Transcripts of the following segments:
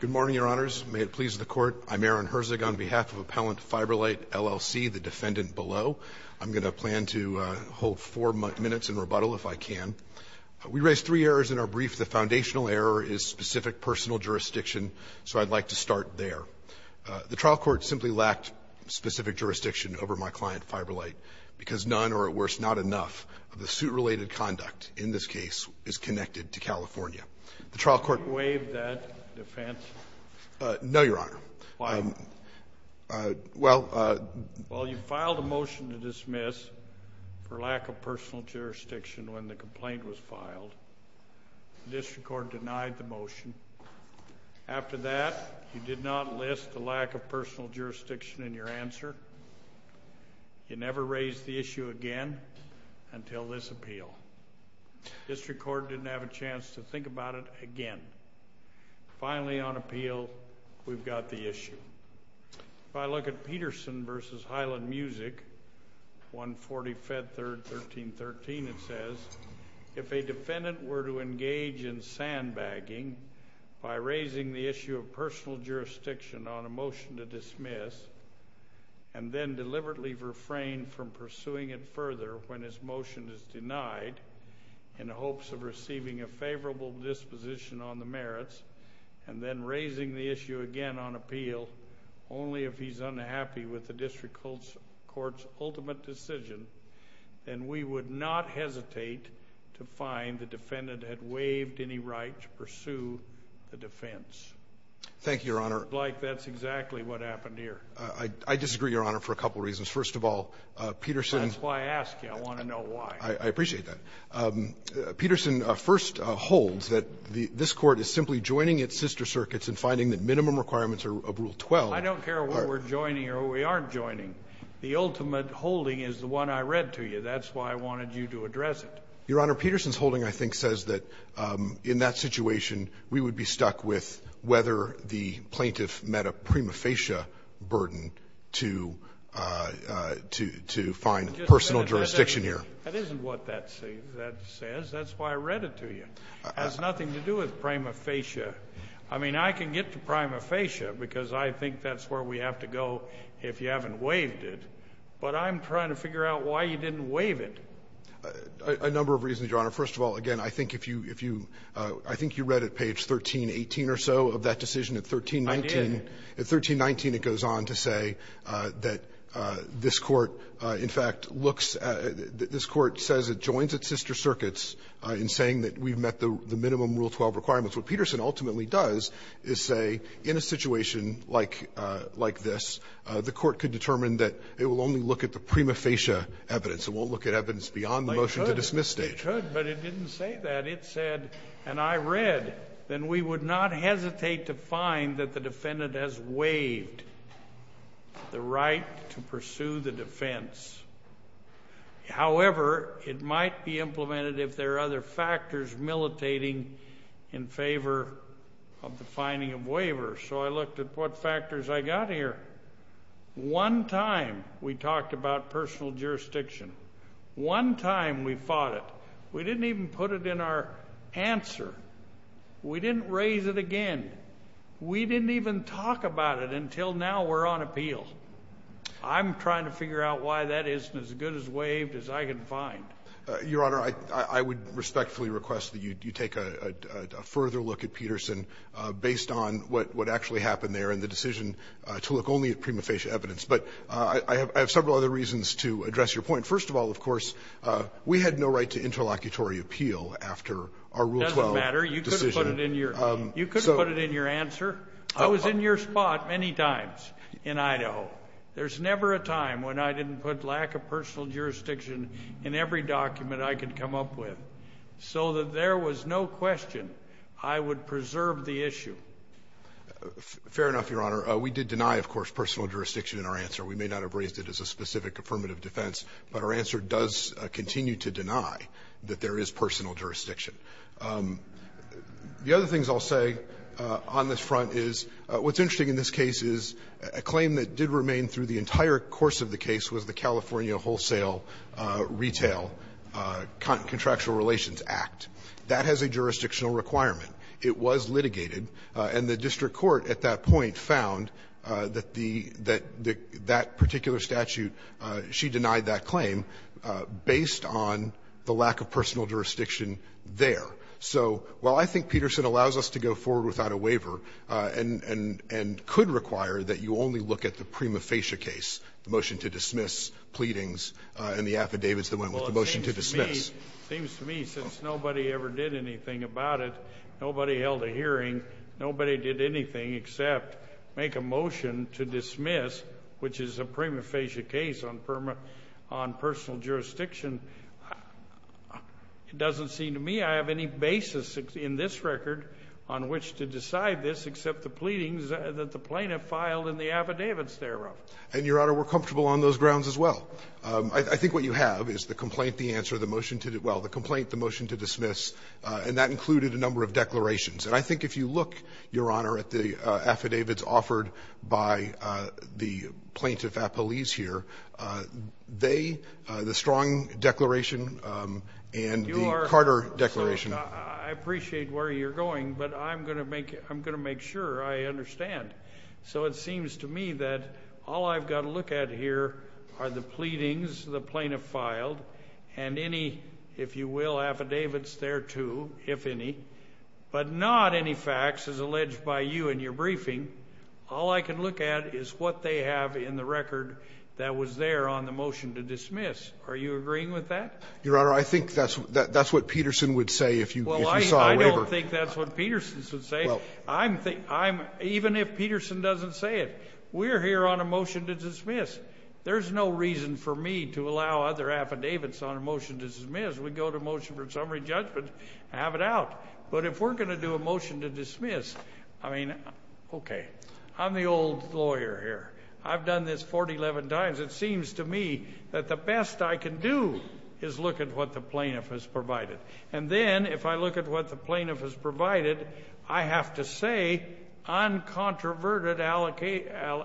Good morning, your honors. May it please the court. I'm Aaron Herzig on behalf of Appellant FiberLight, LLC, the defendant below. I'm going to plan to hold four minutes in rebuttal if I can. We raised three errors in our brief. The foundational error is specific personal jurisdiction, so I'd like to start there. The trial court simply lacked specific jurisdiction over my client, FiberLight, because none, or at worst, not enough, of the suit-related conduct in this case is connected to California. The trial court... Did you waive that defense? No, your honor. Why not? Well... Well, you filed a motion to dismiss for lack of personal jurisdiction when the complaint was filed. The district court denied the motion. After that, you did not list the lack of personal jurisdiction in your answer. You never raised the issue again until this appeal. The district court didn't have a chance to think about it again. Finally, on appeal, we've got the issue. If I look at Peterson v. Highland Music, 140 Fed Third 1313, it says, If a defendant were to engage in sandbagging by raising the issue of personal jurisdiction on a motion to dismiss and then deliberately refrain from pursuing it further when his motion is denied in the hopes of receiving a favorable disposition on the merits and then raising the issue again on appeal only if he's unhappy with the district court's ultimate decision, then we would not hesitate to find the defendant had waived any right to pursue the defense. Thank you, your honor. Like that's exactly what happened here. I disagree, your honor, for a couple of reasons. First of all, Peterson... That's why I asked you. I want to know why. I appreciate that. Peterson first holds that this court is simply joining its sister circuits and finding that minimum requirements of Rule 12... I don't care what we're joining or what we aren't joining. The ultimate holding is the one I read to you. That's why I wanted you to address it. Your honor, Peterson's holding, I think, says that in that situation, we would be stuck with whether the plaintiff met a prima facie burden to find personal jurisdiction here. That isn't what that says. That's why I read it to you. It has nothing to do with prima facie. I mean, I can get to prima facie because I think that's where we have to go if you haven't waived it. But I'm trying to figure out why you didn't waive it. A number of reasons, your honor. First of all, again, I think if you read at page 1318 or so of that decision at 1319... I did. At 1319, it goes on to say that this court, in fact, looks at this court says it joins its sister circuits in saying that we've met the minimum Rule 12 requirements. What Peterson ultimately does is say in a situation like this, the court could determine that it will only look at the prima facie evidence. It won't look at evidence beyond the motion to dismiss stage. It could, but it didn't say that. It said, and I read, then we would not hesitate to find that the defendant has waived the right to pursue the defense. However, it might be implemented if there are other factors militating in favor of the finding of waivers. So I looked at what factors I got here. One time we talked about personal jurisdiction. One time we fought it. We didn't even put it in our answer. We didn't raise it again. We didn't even talk about it until now we're on appeal. I'm trying to figure out why that isn't as good as waived as I can find. Your Honor, I would respectfully request that you take a further look at Peterson based on what actually happened there and the decision to look only at prima facie evidence. But I have several other reasons to address your point. First of all, of course, we had no right to interlocutory appeal after our Rule 12 decision. It doesn't matter. You could have put it in your answer. I was in your spot many times in Idaho. There's never a time when I didn't put lack of personal jurisdiction in every document I could come up with so that there was no question I would preserve the issue. Fair enough, Your Honor. We did deny, of course, personal jurisdiction in our answer. We may not have raised it as a specific affirmative defense, but our answer does continue to deny that there is personal jurisdiction. The other things I'll say on this front is what's interesting in this case is a claim that did remain through the entire course of the case was the California Wholesale Retail Contractual Relations Act. That has a jurisdictional requirement. It was litigated, and the district court at that point found that the — that that particular statute, she denied that claim based on the lack of personal jurisdiction there. So, while I think Peterson allows us to go forward without a waiver and could require that you only look at the prima facie case, the motion to dismiss, pleadings, and the affidavits that went with the motion to dismiss. Well, it seems to me, since nobody ever did anything about it, nobody held a hearing, nobody did anything except make a motion to dismiss, which is a prima facie case on personal jurisdiction. It doesn't seem to me I have any basis in this record on which to decide this except the pleadings that the plaintiff filed and the affidavits thereof. And, Your Honor, we're comfortable on those grounds as well. I think what you have is the complaint, the answer, the motion to — well, the complaint, the motion to dismiss, and that included a number of declarations. And I think if you look, Your Honor, at the affidavits offered by the plaintiff and the police here, they — the Strong declaration and the Carter declaration — I appreciate where you're going, but I'm going to make sure I understand. So it seems to me that all I've got to look at here are the pleadings the plaintiff filed and any, if you will, affidavits thereto, if any, but not any facts as alleged by you in your briefing. All I can look at is what they have in the record that was there on the motion to dismiss. Are you agreeing with that? Your Honor, I think that's what Peterson would say if you saw a waiver. Well, I don't think that's what Peterson would say. I'm — even if Peterson doesn't say it, we're here on a motion to dismiss. There's no reason for me to allow other affidavits on a motion to dismiss. We go to a motion for summary judgment and have it out. But if we're going to do a motion to dismiss, I mean, okay, I'm the old lawyer here. I've done this 411 times. It seems to me that the best I can do is look at what the plaintiff has provided. And then if I look at what the plaintiff has provided, I have to say uncontroverted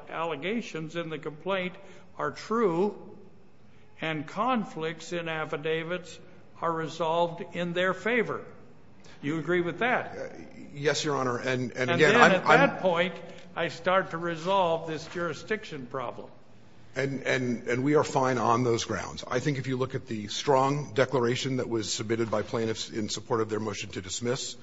allegations in the complaint are true and conflicts in affidavits are resolved in their favor. Do you agree with that? Yes, Your Honor. And again, I'm — And then at that point, I start to resolve this jurisdiction problem. And we are fine on those grounds. I think if you look at the strong declaration that was submitted by plaintiffs in support of their motion to dismiss,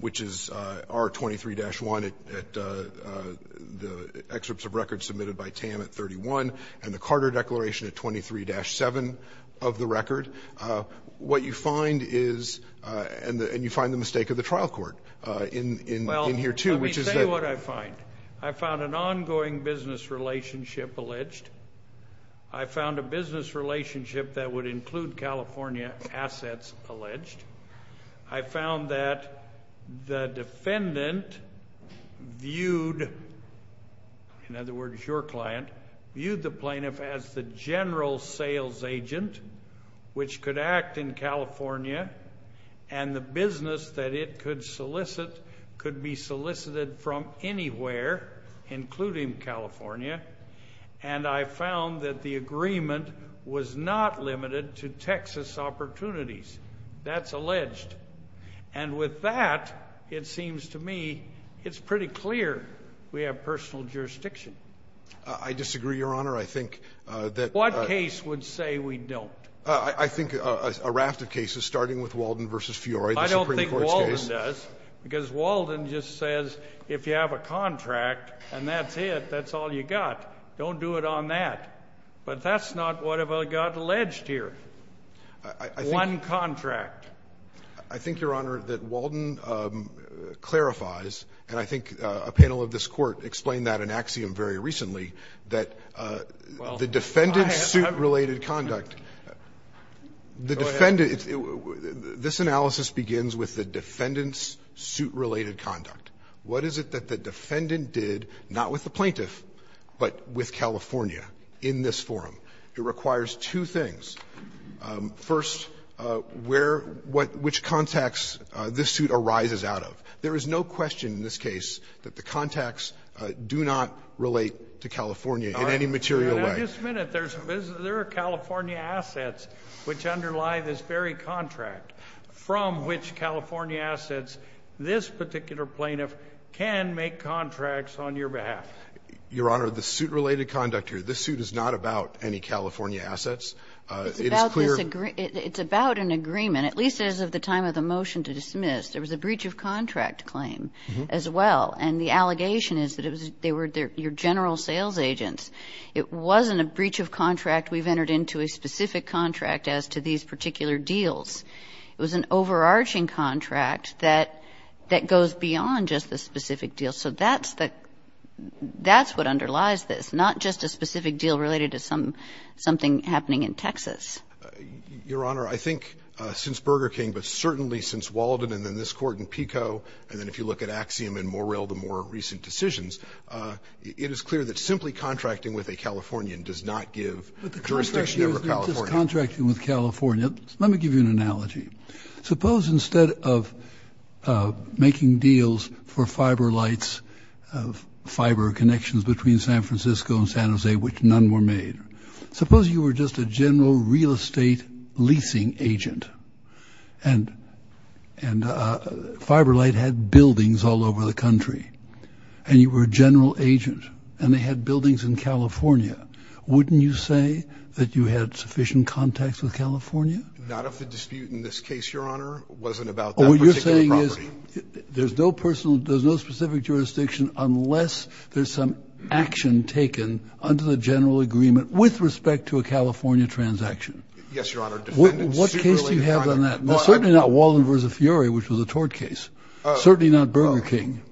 which is R23-1 at the excerpts of records submitted by Tam at 31 and the Carter Declaration at 23-7 of the record, what you find is — and you find the mistake of the trial court in here, too, which is that — Well, let me say what I find. I found an ongoing business relationship alleged. I found a business relationship that would include California assets alleged. I found that the defendant viewed — in other words, your client — viewed the plaintiff as the general sales agent, which could act in California, and the business that it could solicit could be solicited from anywhere, including California. And I found that the agreement was not limited to Texas opportunities. That's alleged. And with that, it seems to me it's pretty clear we have personal jurisdiction. I disagree, Your Honor. I think that — What case would say we don't? I think a raft of cases, starting with Walden v. Fiori, the Supreme Court's case. I don't think Walden does, because Walden just says if you have a contract and that's it, that's all you got. Don't do it on that. But that's not what got alleged here. I think — One contract. I think, Your Honor, that Walden clarifies, and I think a panel of this Court explained that in Axiom very recently, that the defendant's suit-related conduct — Well, I have — Go ahead. This analysis begins with the defendant's suit-related conduct. What is it that the defendant did, not with the plaintiff, but with California in this forum? It requires two things. First, where — which contacts this suit arises out of. There is no question in this case that the contacts do not relate to California in any material way. All right. Now, just a minute. There are California assets which underlie this very contract, from which California assets this particular plaintiff can make contracts on your behalf. Your Honor, the suit-related conduct here, this suit is not about any California assets. It is clear — It's about an agreement, at least as of the time of the motion to dismiss. There was a breach of contract claim as well. And the allegation is that it was — they were your general sales agents. It wasn't a breach of contract. We've entered into a specific contract as to these particular deals. It was an overarching contract that goes beyond just the specific deal. So that's the — that's what underlies this, not just a specific deal related to something happening in Texas. Your Honor, I think since Burger King, but certainly since Walden and then this court in PICO, and then if you look at Axiom and Morrell, the more recent decisions, it is clear that simply contracting with a Californian does not give jurisdiction over California. But the contract here is not just contracting with California. Let me give you an analogy. Suppose instead of making deals for fiber lights, fiber connections between San Francisco and San Jose, which none were made. Suppose you were just a general real estate leasing agent. And fiber light had buildings all over the country. And you were a general agent. And they had buildings in California. Wouldn't you say that you had sufficient contacts with California? Not of the dispute in this case, Your Honor. It wasn't about that particular property. What you're saying is there's no personal — there's no specific jurisdiction unless there's some action taken under the general agreement with respect to a California transaction. Yes, Your Honor. What case do you have on that? Certainly not Walden v. Fiore, which was a tort case. Certainly not Burger King.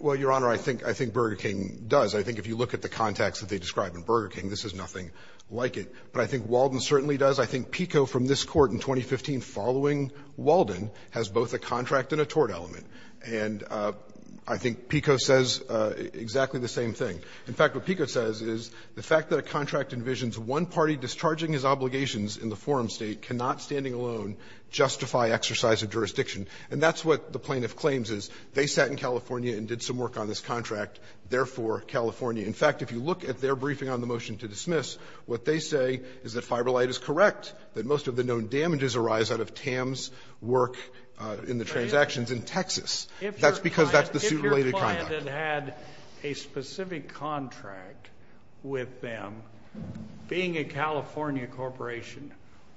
Well, Your Honor, I think Burger King does. I think if you look at the contacts that they describe in Burger King, this is nothing like it. But I think Walden certainly does. I think PICO from this court in 2015 following Walden has both a contract and a tort element. And I think PICO says exactly the same thing. In fact, what PICO says is the fact that a contract envisions one party discharging his obligations in the forum State cannot standing alone justify exercise of jurisdiction. And that's what the plaintiff claims is. They sat in California and did some work on this contract, therefore California. In fact, if you look at their briefing on the motion to dismiss, what they say is that fiber light is correct, that most of the known damages arise out of Tam's work in the Texas. That's because that's the suit-related conduct. If your client had had a specific contract with them, being a California corporation,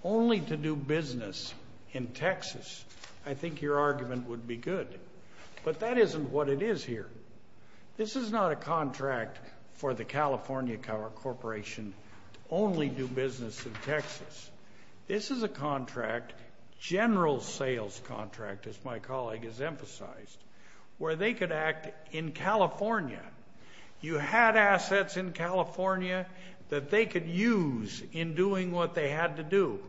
only to do business in Texas, I think your argument would be good. But that isn't what it is here. This is not a contract for the California corporation to only do business in Texas. This is a contract, general sales contract, as my colleague has emphasized, where they could act in California. You had assets in California that they could use in doing what they had to do.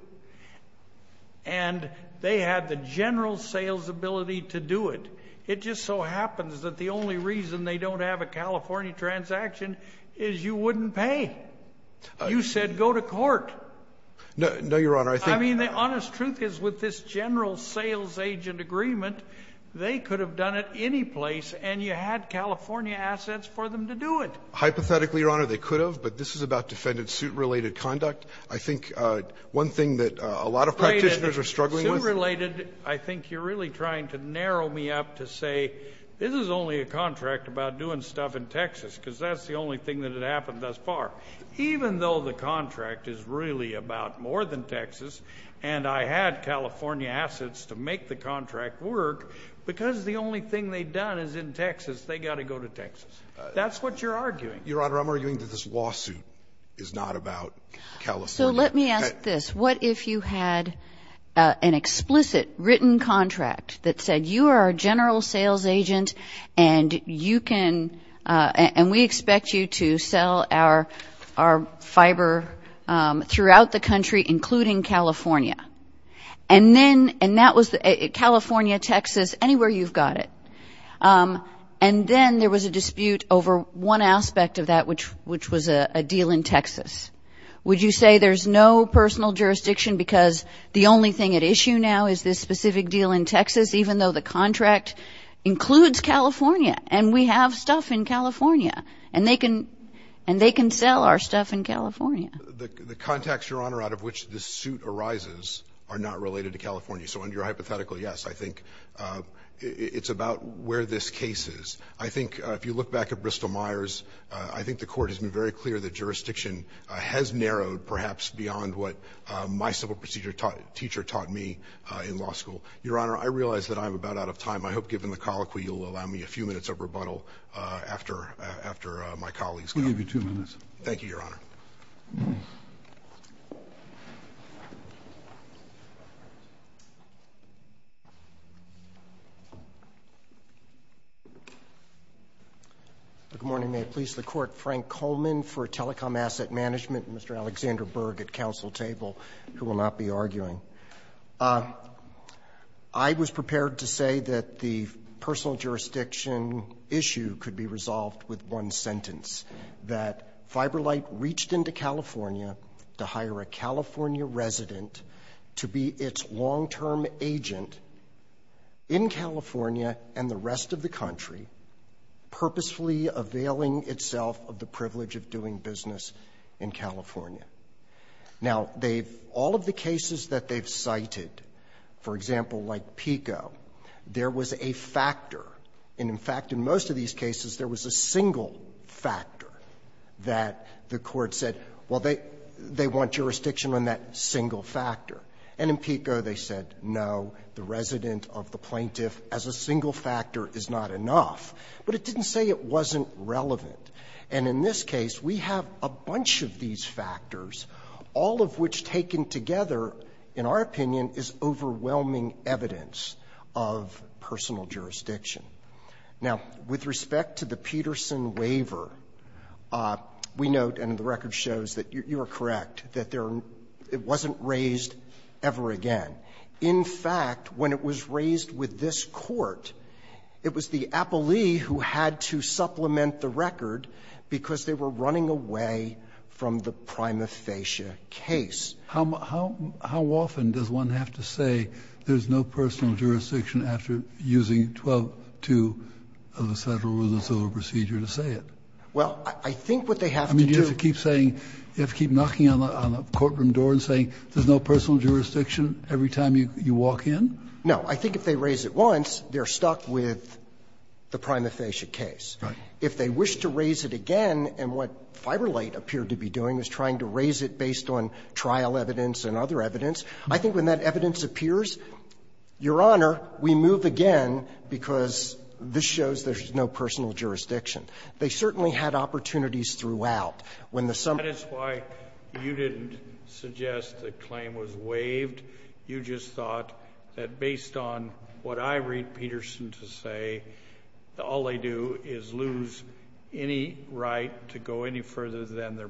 And they had the general sales ability to do it. It just so happens that the only reason they don't have a California transaction is you wouldn't pay. You said go to court. No, Your Honor. I mean, the honest truth is with this general sales agent agreement, they could have done it any place, and you had California assets for them to do it. Hypothetically, Your Honor, they could have, but this is about defendant suit-related conduct. I think one thing that a lot of practitioners are struggling with— Wait a minute. Suit-related, I think you're really trying to narrow me up to say this is only a contract about doing stuff in Texas, because that's the only thing that had happened thus far. Even though the contract is really about more than Texas, and I had California assets to make the contract work, because the only thing they'd done is in Texas, they got to go to Texas. That's what you're arguing. Your Honor, I'm arguing that this lawsuit is not about California. So let me ask this. What if you had an explicit written contract that said you are a general sales agent, and you can—and we expect you to sell our fiber throughout the country, including California? And that was California, Texas, anywhere you've got it. And then there was a dispute over one aspect of that, which was a deal in Texas. Would you say there's no personal jurisdiction because the only thing at issue now is this specific deal in Texas, even though the contract includes California, and we have stuff in California, and they can sell our stuff in California? The context, Your Honor, out of which this suit arises are not related to California. So under your hypothetical, yes, I think it's about where this case is. I think if you look back at Bristol-Myers, I think the Court has been very clear that jurisdiction has narrowed perhaps beyond what my civil procedure teacher taught me in law school. Your Honor, I realize that I'm about out of time. I hope, given the colloquy, you'll allow me a few minutes of rebuttal after my colleagues come. We'll give you two minutes. Thank you, Your Honor. Good morning. May it please the Court. Frank Coleman for Telecom Asset Management and Mr. Alexander Berg at counsel table, who will not be arguing. I was prepared to say that the personal jurisdiction issue could be resolved with one sentence, that FiberLite reached into California to hire a California resident to be its long-term agent in California and the rest of the country, purposefully availing itself of the privilege of doing business in California. Now, all of the cases that they've cited, for example, like PICO, there was a factor and, in fact, in most of these cases, there was a single factor that the Court said, well, they want jurisdiction on that single factor. And in PICO, they said, no, the resident of the plaintiff as a single factor is not enough, but it didn't say it wasn't relevant. And in this case, we have a bunch of these factors, all of which taken together, in our opinion, is overwhelming evidence of personal jurisdiction. Now, with respect to the Peterson waiver, we note, and the record shows that you are correct, that it wasn't raised ever again. In fact, when it was raised with this Court, it was the appellee who had to supplement the record because they were running away from the prima facie case. Kennedy, how often does one have to say there's no personal jurisdiction after using 12.2 of the Federal Rules of Civil Procedure to say it? Well, I think what they have to do to keep saying, you have to keep knocking on the courtroom door and saying there's no personal jurisdiction every time you walk in? No. I think if they raise it once, they're stuck with the prima facie case. Right. If they wish to raise it again, and what FiberLate appeared to be doing was trying to raise it based on trial evidence and other evidence, I think when that evidence appears, Your Honor, we move again because this shows there's no personal jurisdiction. They certainly had opportunities throughout. When the summary came out, they said, well, we're not going to do that, we're not going to do that, we're not going to do that, we're not going to do that, we're not going to do that, we're not going to do that, we're not going to do that, we're not going to do that. If they were to do it again, they would have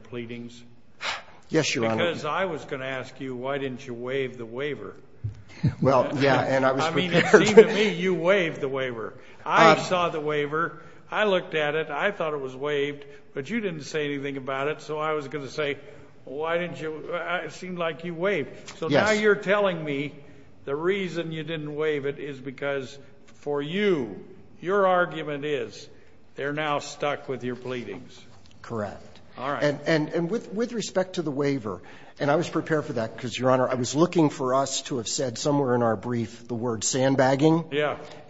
to do it again. Yes, Your Honor. Because I was going to ask you, why didn't you waive the waiver? Well, yeah. And I was prepared. I mean, it seemed to me you waived the waiver. I saw the waiver. I looked at it. I thought it was waived, but you didn't say anything about it, so I was going to say, why didn't you? It seemed like you waived. Yes. So now you're telling me the reason you didn't waive it is because for you, your mouth stuck with your pleadings. Correct. All right. And with respect to the waiver, and I was prepared for that because, Your Honor, I was looking for us to have said somewhere in our brief the word sandbagging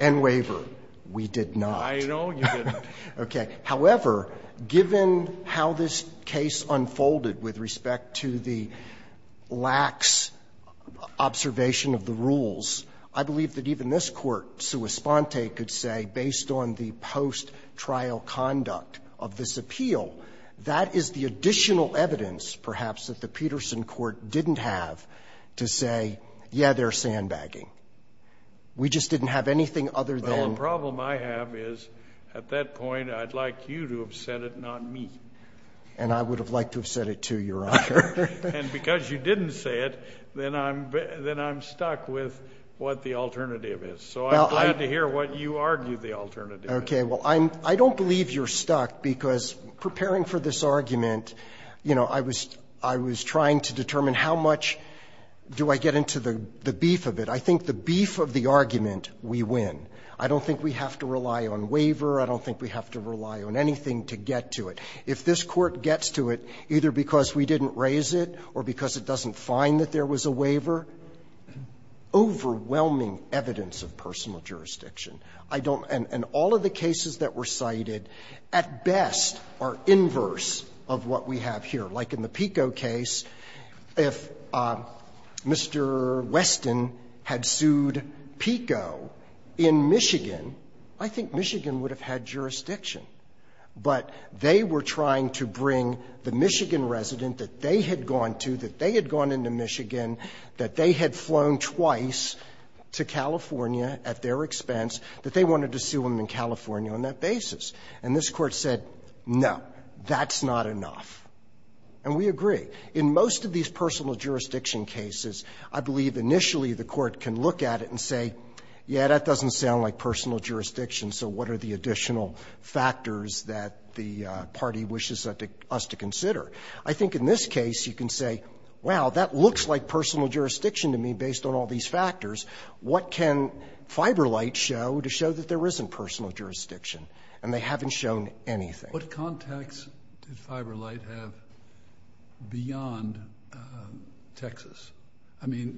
and waiver. We did not. I know you didn't. Okay. However, given how this case unfolded with respect to the lax observation of the rules, I believe that even this Court, sua sponte, could say, based on the post-trial conduct of this appeal, that is the additional evidence, perhaps, that the Peterson Court didn't have to say, yeah, they're sandbagging. We just didn't have anything other than the sandbagging. Well, the problem I have is, at that point, I'd like you to have said it, not me. And I would have liked to have said it, too, Your Honor. And because you didn't say it, then I'm stuck with what the alternative is. So I'm glad to hear what you argue the alternative is. Okay. Well, I don't believe you're stuck because preparing for this argument, you know, I was trying to determine how much do I get into the beef of it. I think the beef of the argument, we win. I don't think we have to rely on waiver. I don't think we have to rely on anything to get to it. If this Court gets to it, either because we didn't raise it or because it doesn't find that there was a waiver, overwhelming evidence of personal jurisdiction. I don't – and all of the cases that were cited, at best, are inverse of what we have here. Like in the Pico case, if Mr. Weston had sued Pico in Michigan, I think Michigan would have had jurisdiction. But they were trying to bring the Michigan resident that they had gone to, that they had gone into Michigan, that they had flown twice to California at their expense, that they wanted to sue him in California on that basis. And this Court said, no, that's not enough. And we agree. In most of these personal jurisdiction cases, I believe initially the Court can look at it and say, yeah, that doesn't sound like personal jurisdiction, so what are the additional factors that the party wishes us to consider? I think in this case, you can say, wow, that looks like personal jurisdiction to me based on all these factors. What can FiberLite show to show that there isn't personal jurisdiction? And they haven't shown anything. Kennedy, what context did FiberLite have beyond Texas? I mean,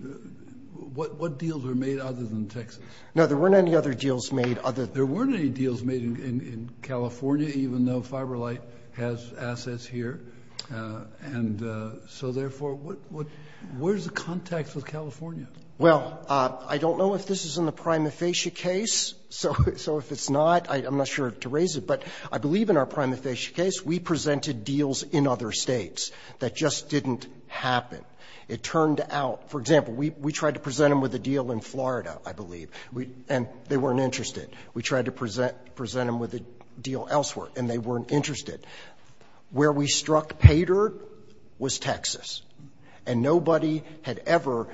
what deals were made other than Texas? Now, there weren't any other deals made other than Texas. There weren't any deals made in California, even though FiberLite has assets here. And so, therefore, what is the context of California? Well, I don't know if this is in the prima facie case. So if it's not, I'm not sure to raise it. But I believe in our prima facie case, we presented deals in other States that just didn't happen. It turned out, for example, we tried to present them with a deal in Florida, I believe, and they weren't interested. We tried to present them with a deal elsewhere, and they weren't interested. Where we struck Paydirt was Texas. And nobody had ever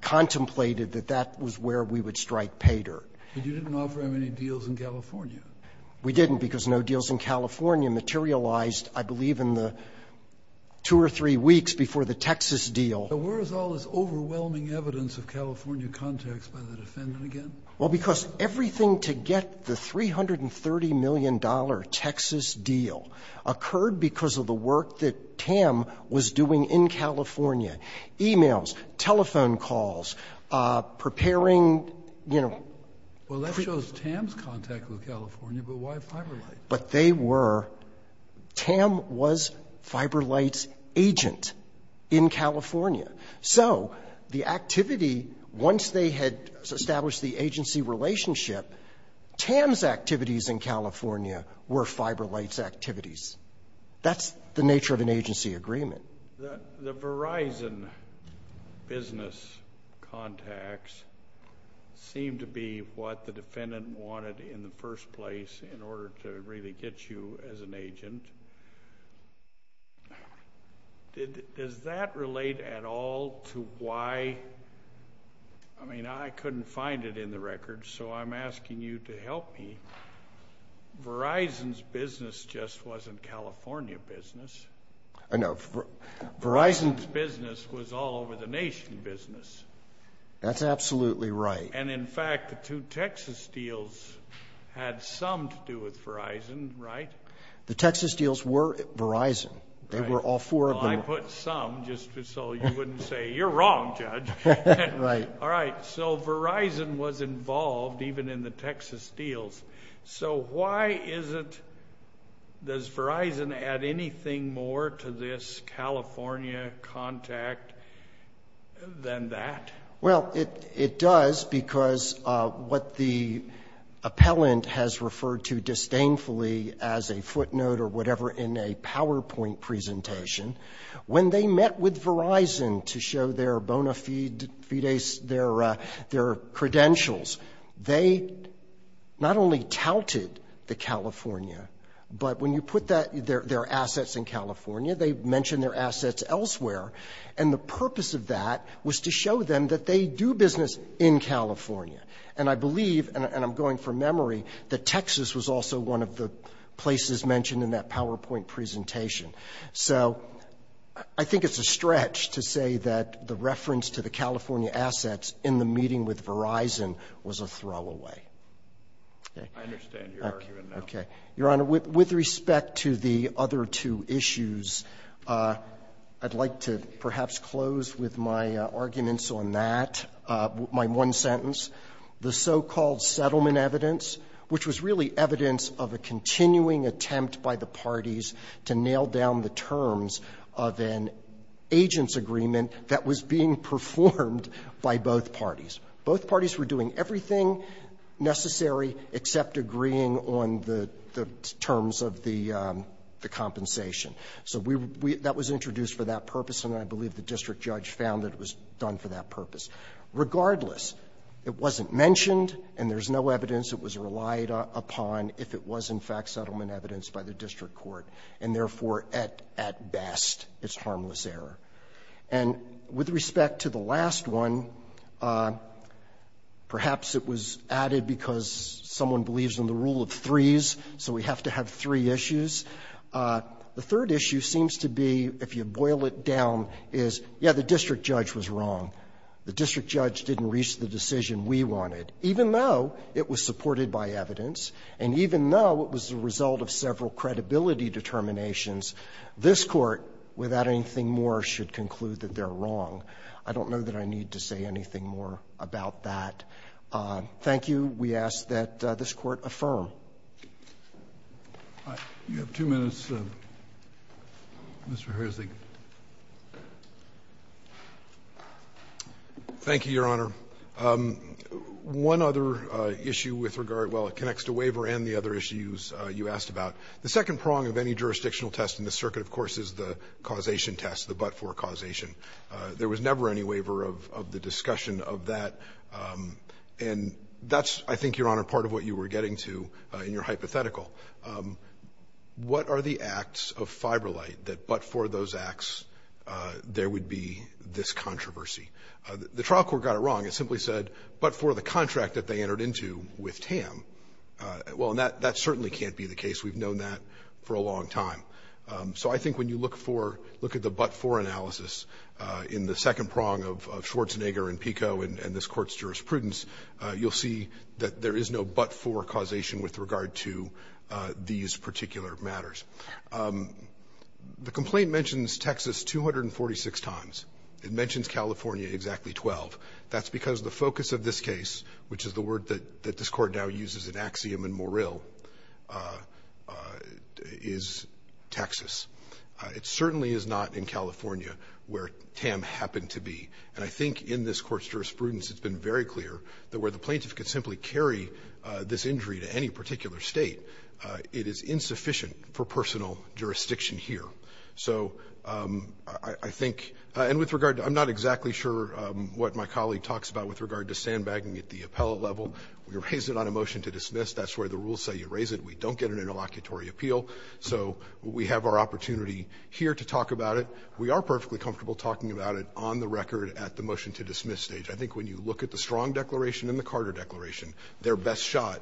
contemplated that that was where we would strike Paydirt. But you didn't offer them any deals in California. We didn't, because no deals in California materialized, I believe, in the two or three weeks before the Texas deal. But where is all this overwhelming evidence of California context by the defendant again? Well, because everything to get the $330 million Texas deal occurred because of the work that Tam was doing in California, e-mails, telephone calls, preparing, you know. Well, that shows Tam's contact with California, but why FiberLite? But they were Tam was FiberLite's agent in California. So the activity, once they had established the agency relationship, Tam's activities in California were FiberLite's activities. That's the nature of an agency agreement. The Verizon business contacts seem to be what the defendant wanted in the first place in order to really get you as an agent. Does that relate at all to why, I mean, I couldn't find it in the records, so I'm asking you to help me. Verizon's business just wasn't California business. No, Verizon's business was all over the nation business. That's absolutely right. And in fact, the two Texas deals had some to do with Verizon, right? The Texas deals were Verizon. They were all four of them. Well, I put some just so you wouldn't say, you're wrong, Judge. Right. All right. So Verizon was involved even in the Texas deals. So why isn't, does Verizon add anything more to this California contact than that? Well, it does because what the appellant has referred to disdainfully as a footnote or whatever in a PowerPoint presentation, when they met with Verizon to show their bona fides, their credentials, they not only touted the California, but when you put that, their assets in California, they mentioned their assets elsewhere. And the purpose of that was to show them that they do business in California. And I believe, and I'm going from memory, that Texas was also one of the places mentioned in that PowerPoint presentation. So I think it's a stretch to say that the reference to the California assets in the meeting with Verizon was a throwaway. I understand your argument now. Okay. Your Honor, with respect to the other two issues, I'd like to perhaps close with my arguments on that, my one sentence, the so-called settlement evidence, which was really evidence of a continuing attempt by the parties to nail down the terms of an agent's agreement that was being performed by both parties. Both parties were doing everything necessary except agreeing on the terms of the compensation. So that was introduced for that purpose, and I believe the district judge found that it was done for that purpose. Regardless, it wasn't mentioned, and there's no evidence. It was relied upon if it was in fact settlement evidence by the district court, and therefore, at best, it's harmless error. And with respect to the last one, perhaps it was added because someone believes in the rule of threes, so we have to have three issues. The third issue seems to be, if you boil it down, is, yes, the district judge was wrong. The district judge didn't reach the decision we wanted, even though it was supported by evidence, and even though it was the result of several credibility determinations, this Court, without anything more, should conclude that they're wrong. I don't know that I need to say anything more about that. Thank you. We ask that this Court affirm. Roberts. Thank you, Your Honor. One other issue with regard to the waiver and the other issues you asked about. The second prong of any jurisdictional test in this circuit, of course, is the causation test, the but-for causation. There was never any waiver of the discussion of that, and that's, I think, Your Honor, part of what you were getting to in your hypothetical. What are the acts of Fiberlight that but for those acts there would be this controversy? The trial court got it wrong. It simply said, but for the contract that they entered into with Tam. Well, that certainly can't be the case. We've known that for a long time. So I think when you look for the but-for analysis in the second prong of Schwarzenegger and Pico and this Court's jurisprudence, you'll see that there is no but-for causation with regard to these particular matters. The complaint mentions Texas 246 times. It mentions California exactly 12. That's because the focus of this case, which is the word that this Court now uses as an axiom in Morrill, is Texas. It certainly is not in California, where Tam happened to be. And I think in this Court's jurisprudence it's been very clear that where the plaintiff could simply carry this injury to any particular State, it is insufficient for personal jurisdiction here. So I think, and with regard to, I'm not exactly sure what my colleague talks about with regard to sandbagging at the appellate level. We raised it on a motion to dismiss. That's where the rules say you raise it. We don't get an interlocutory appeal. So we have our opportunity here to talk about it. We are perfectly comfortable talking about it on the record at the motion to dismiss stage. I think when you look at the Strong Declaration and the Carter Declaration, they're best shot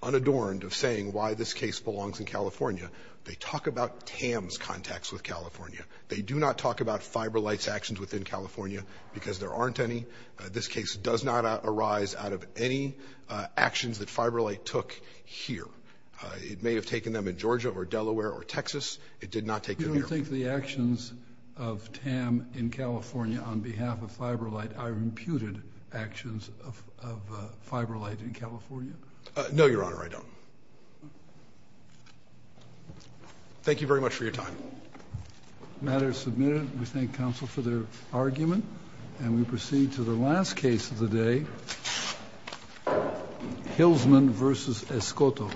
unadorned of saying why this case belongs in California. They talk about Tam's contacts with California. They do not talk about Fiberlight's actions within California because there aren't any. This case does not arise out of any actions that Fiberlight took here. It may have taken them in Georgia or Delaware or Texas. It did not take them here. Kennedy. You don't think the actions of Tam in California on behalf of Fiberlight are imputed actions of Fiberlight in California? No, Your Honor, I don't. Thank you very much for your time. The matter is submitted. We thank counsel for their argument. And we proceed to the last case of the day, Hillsman versus Escoto.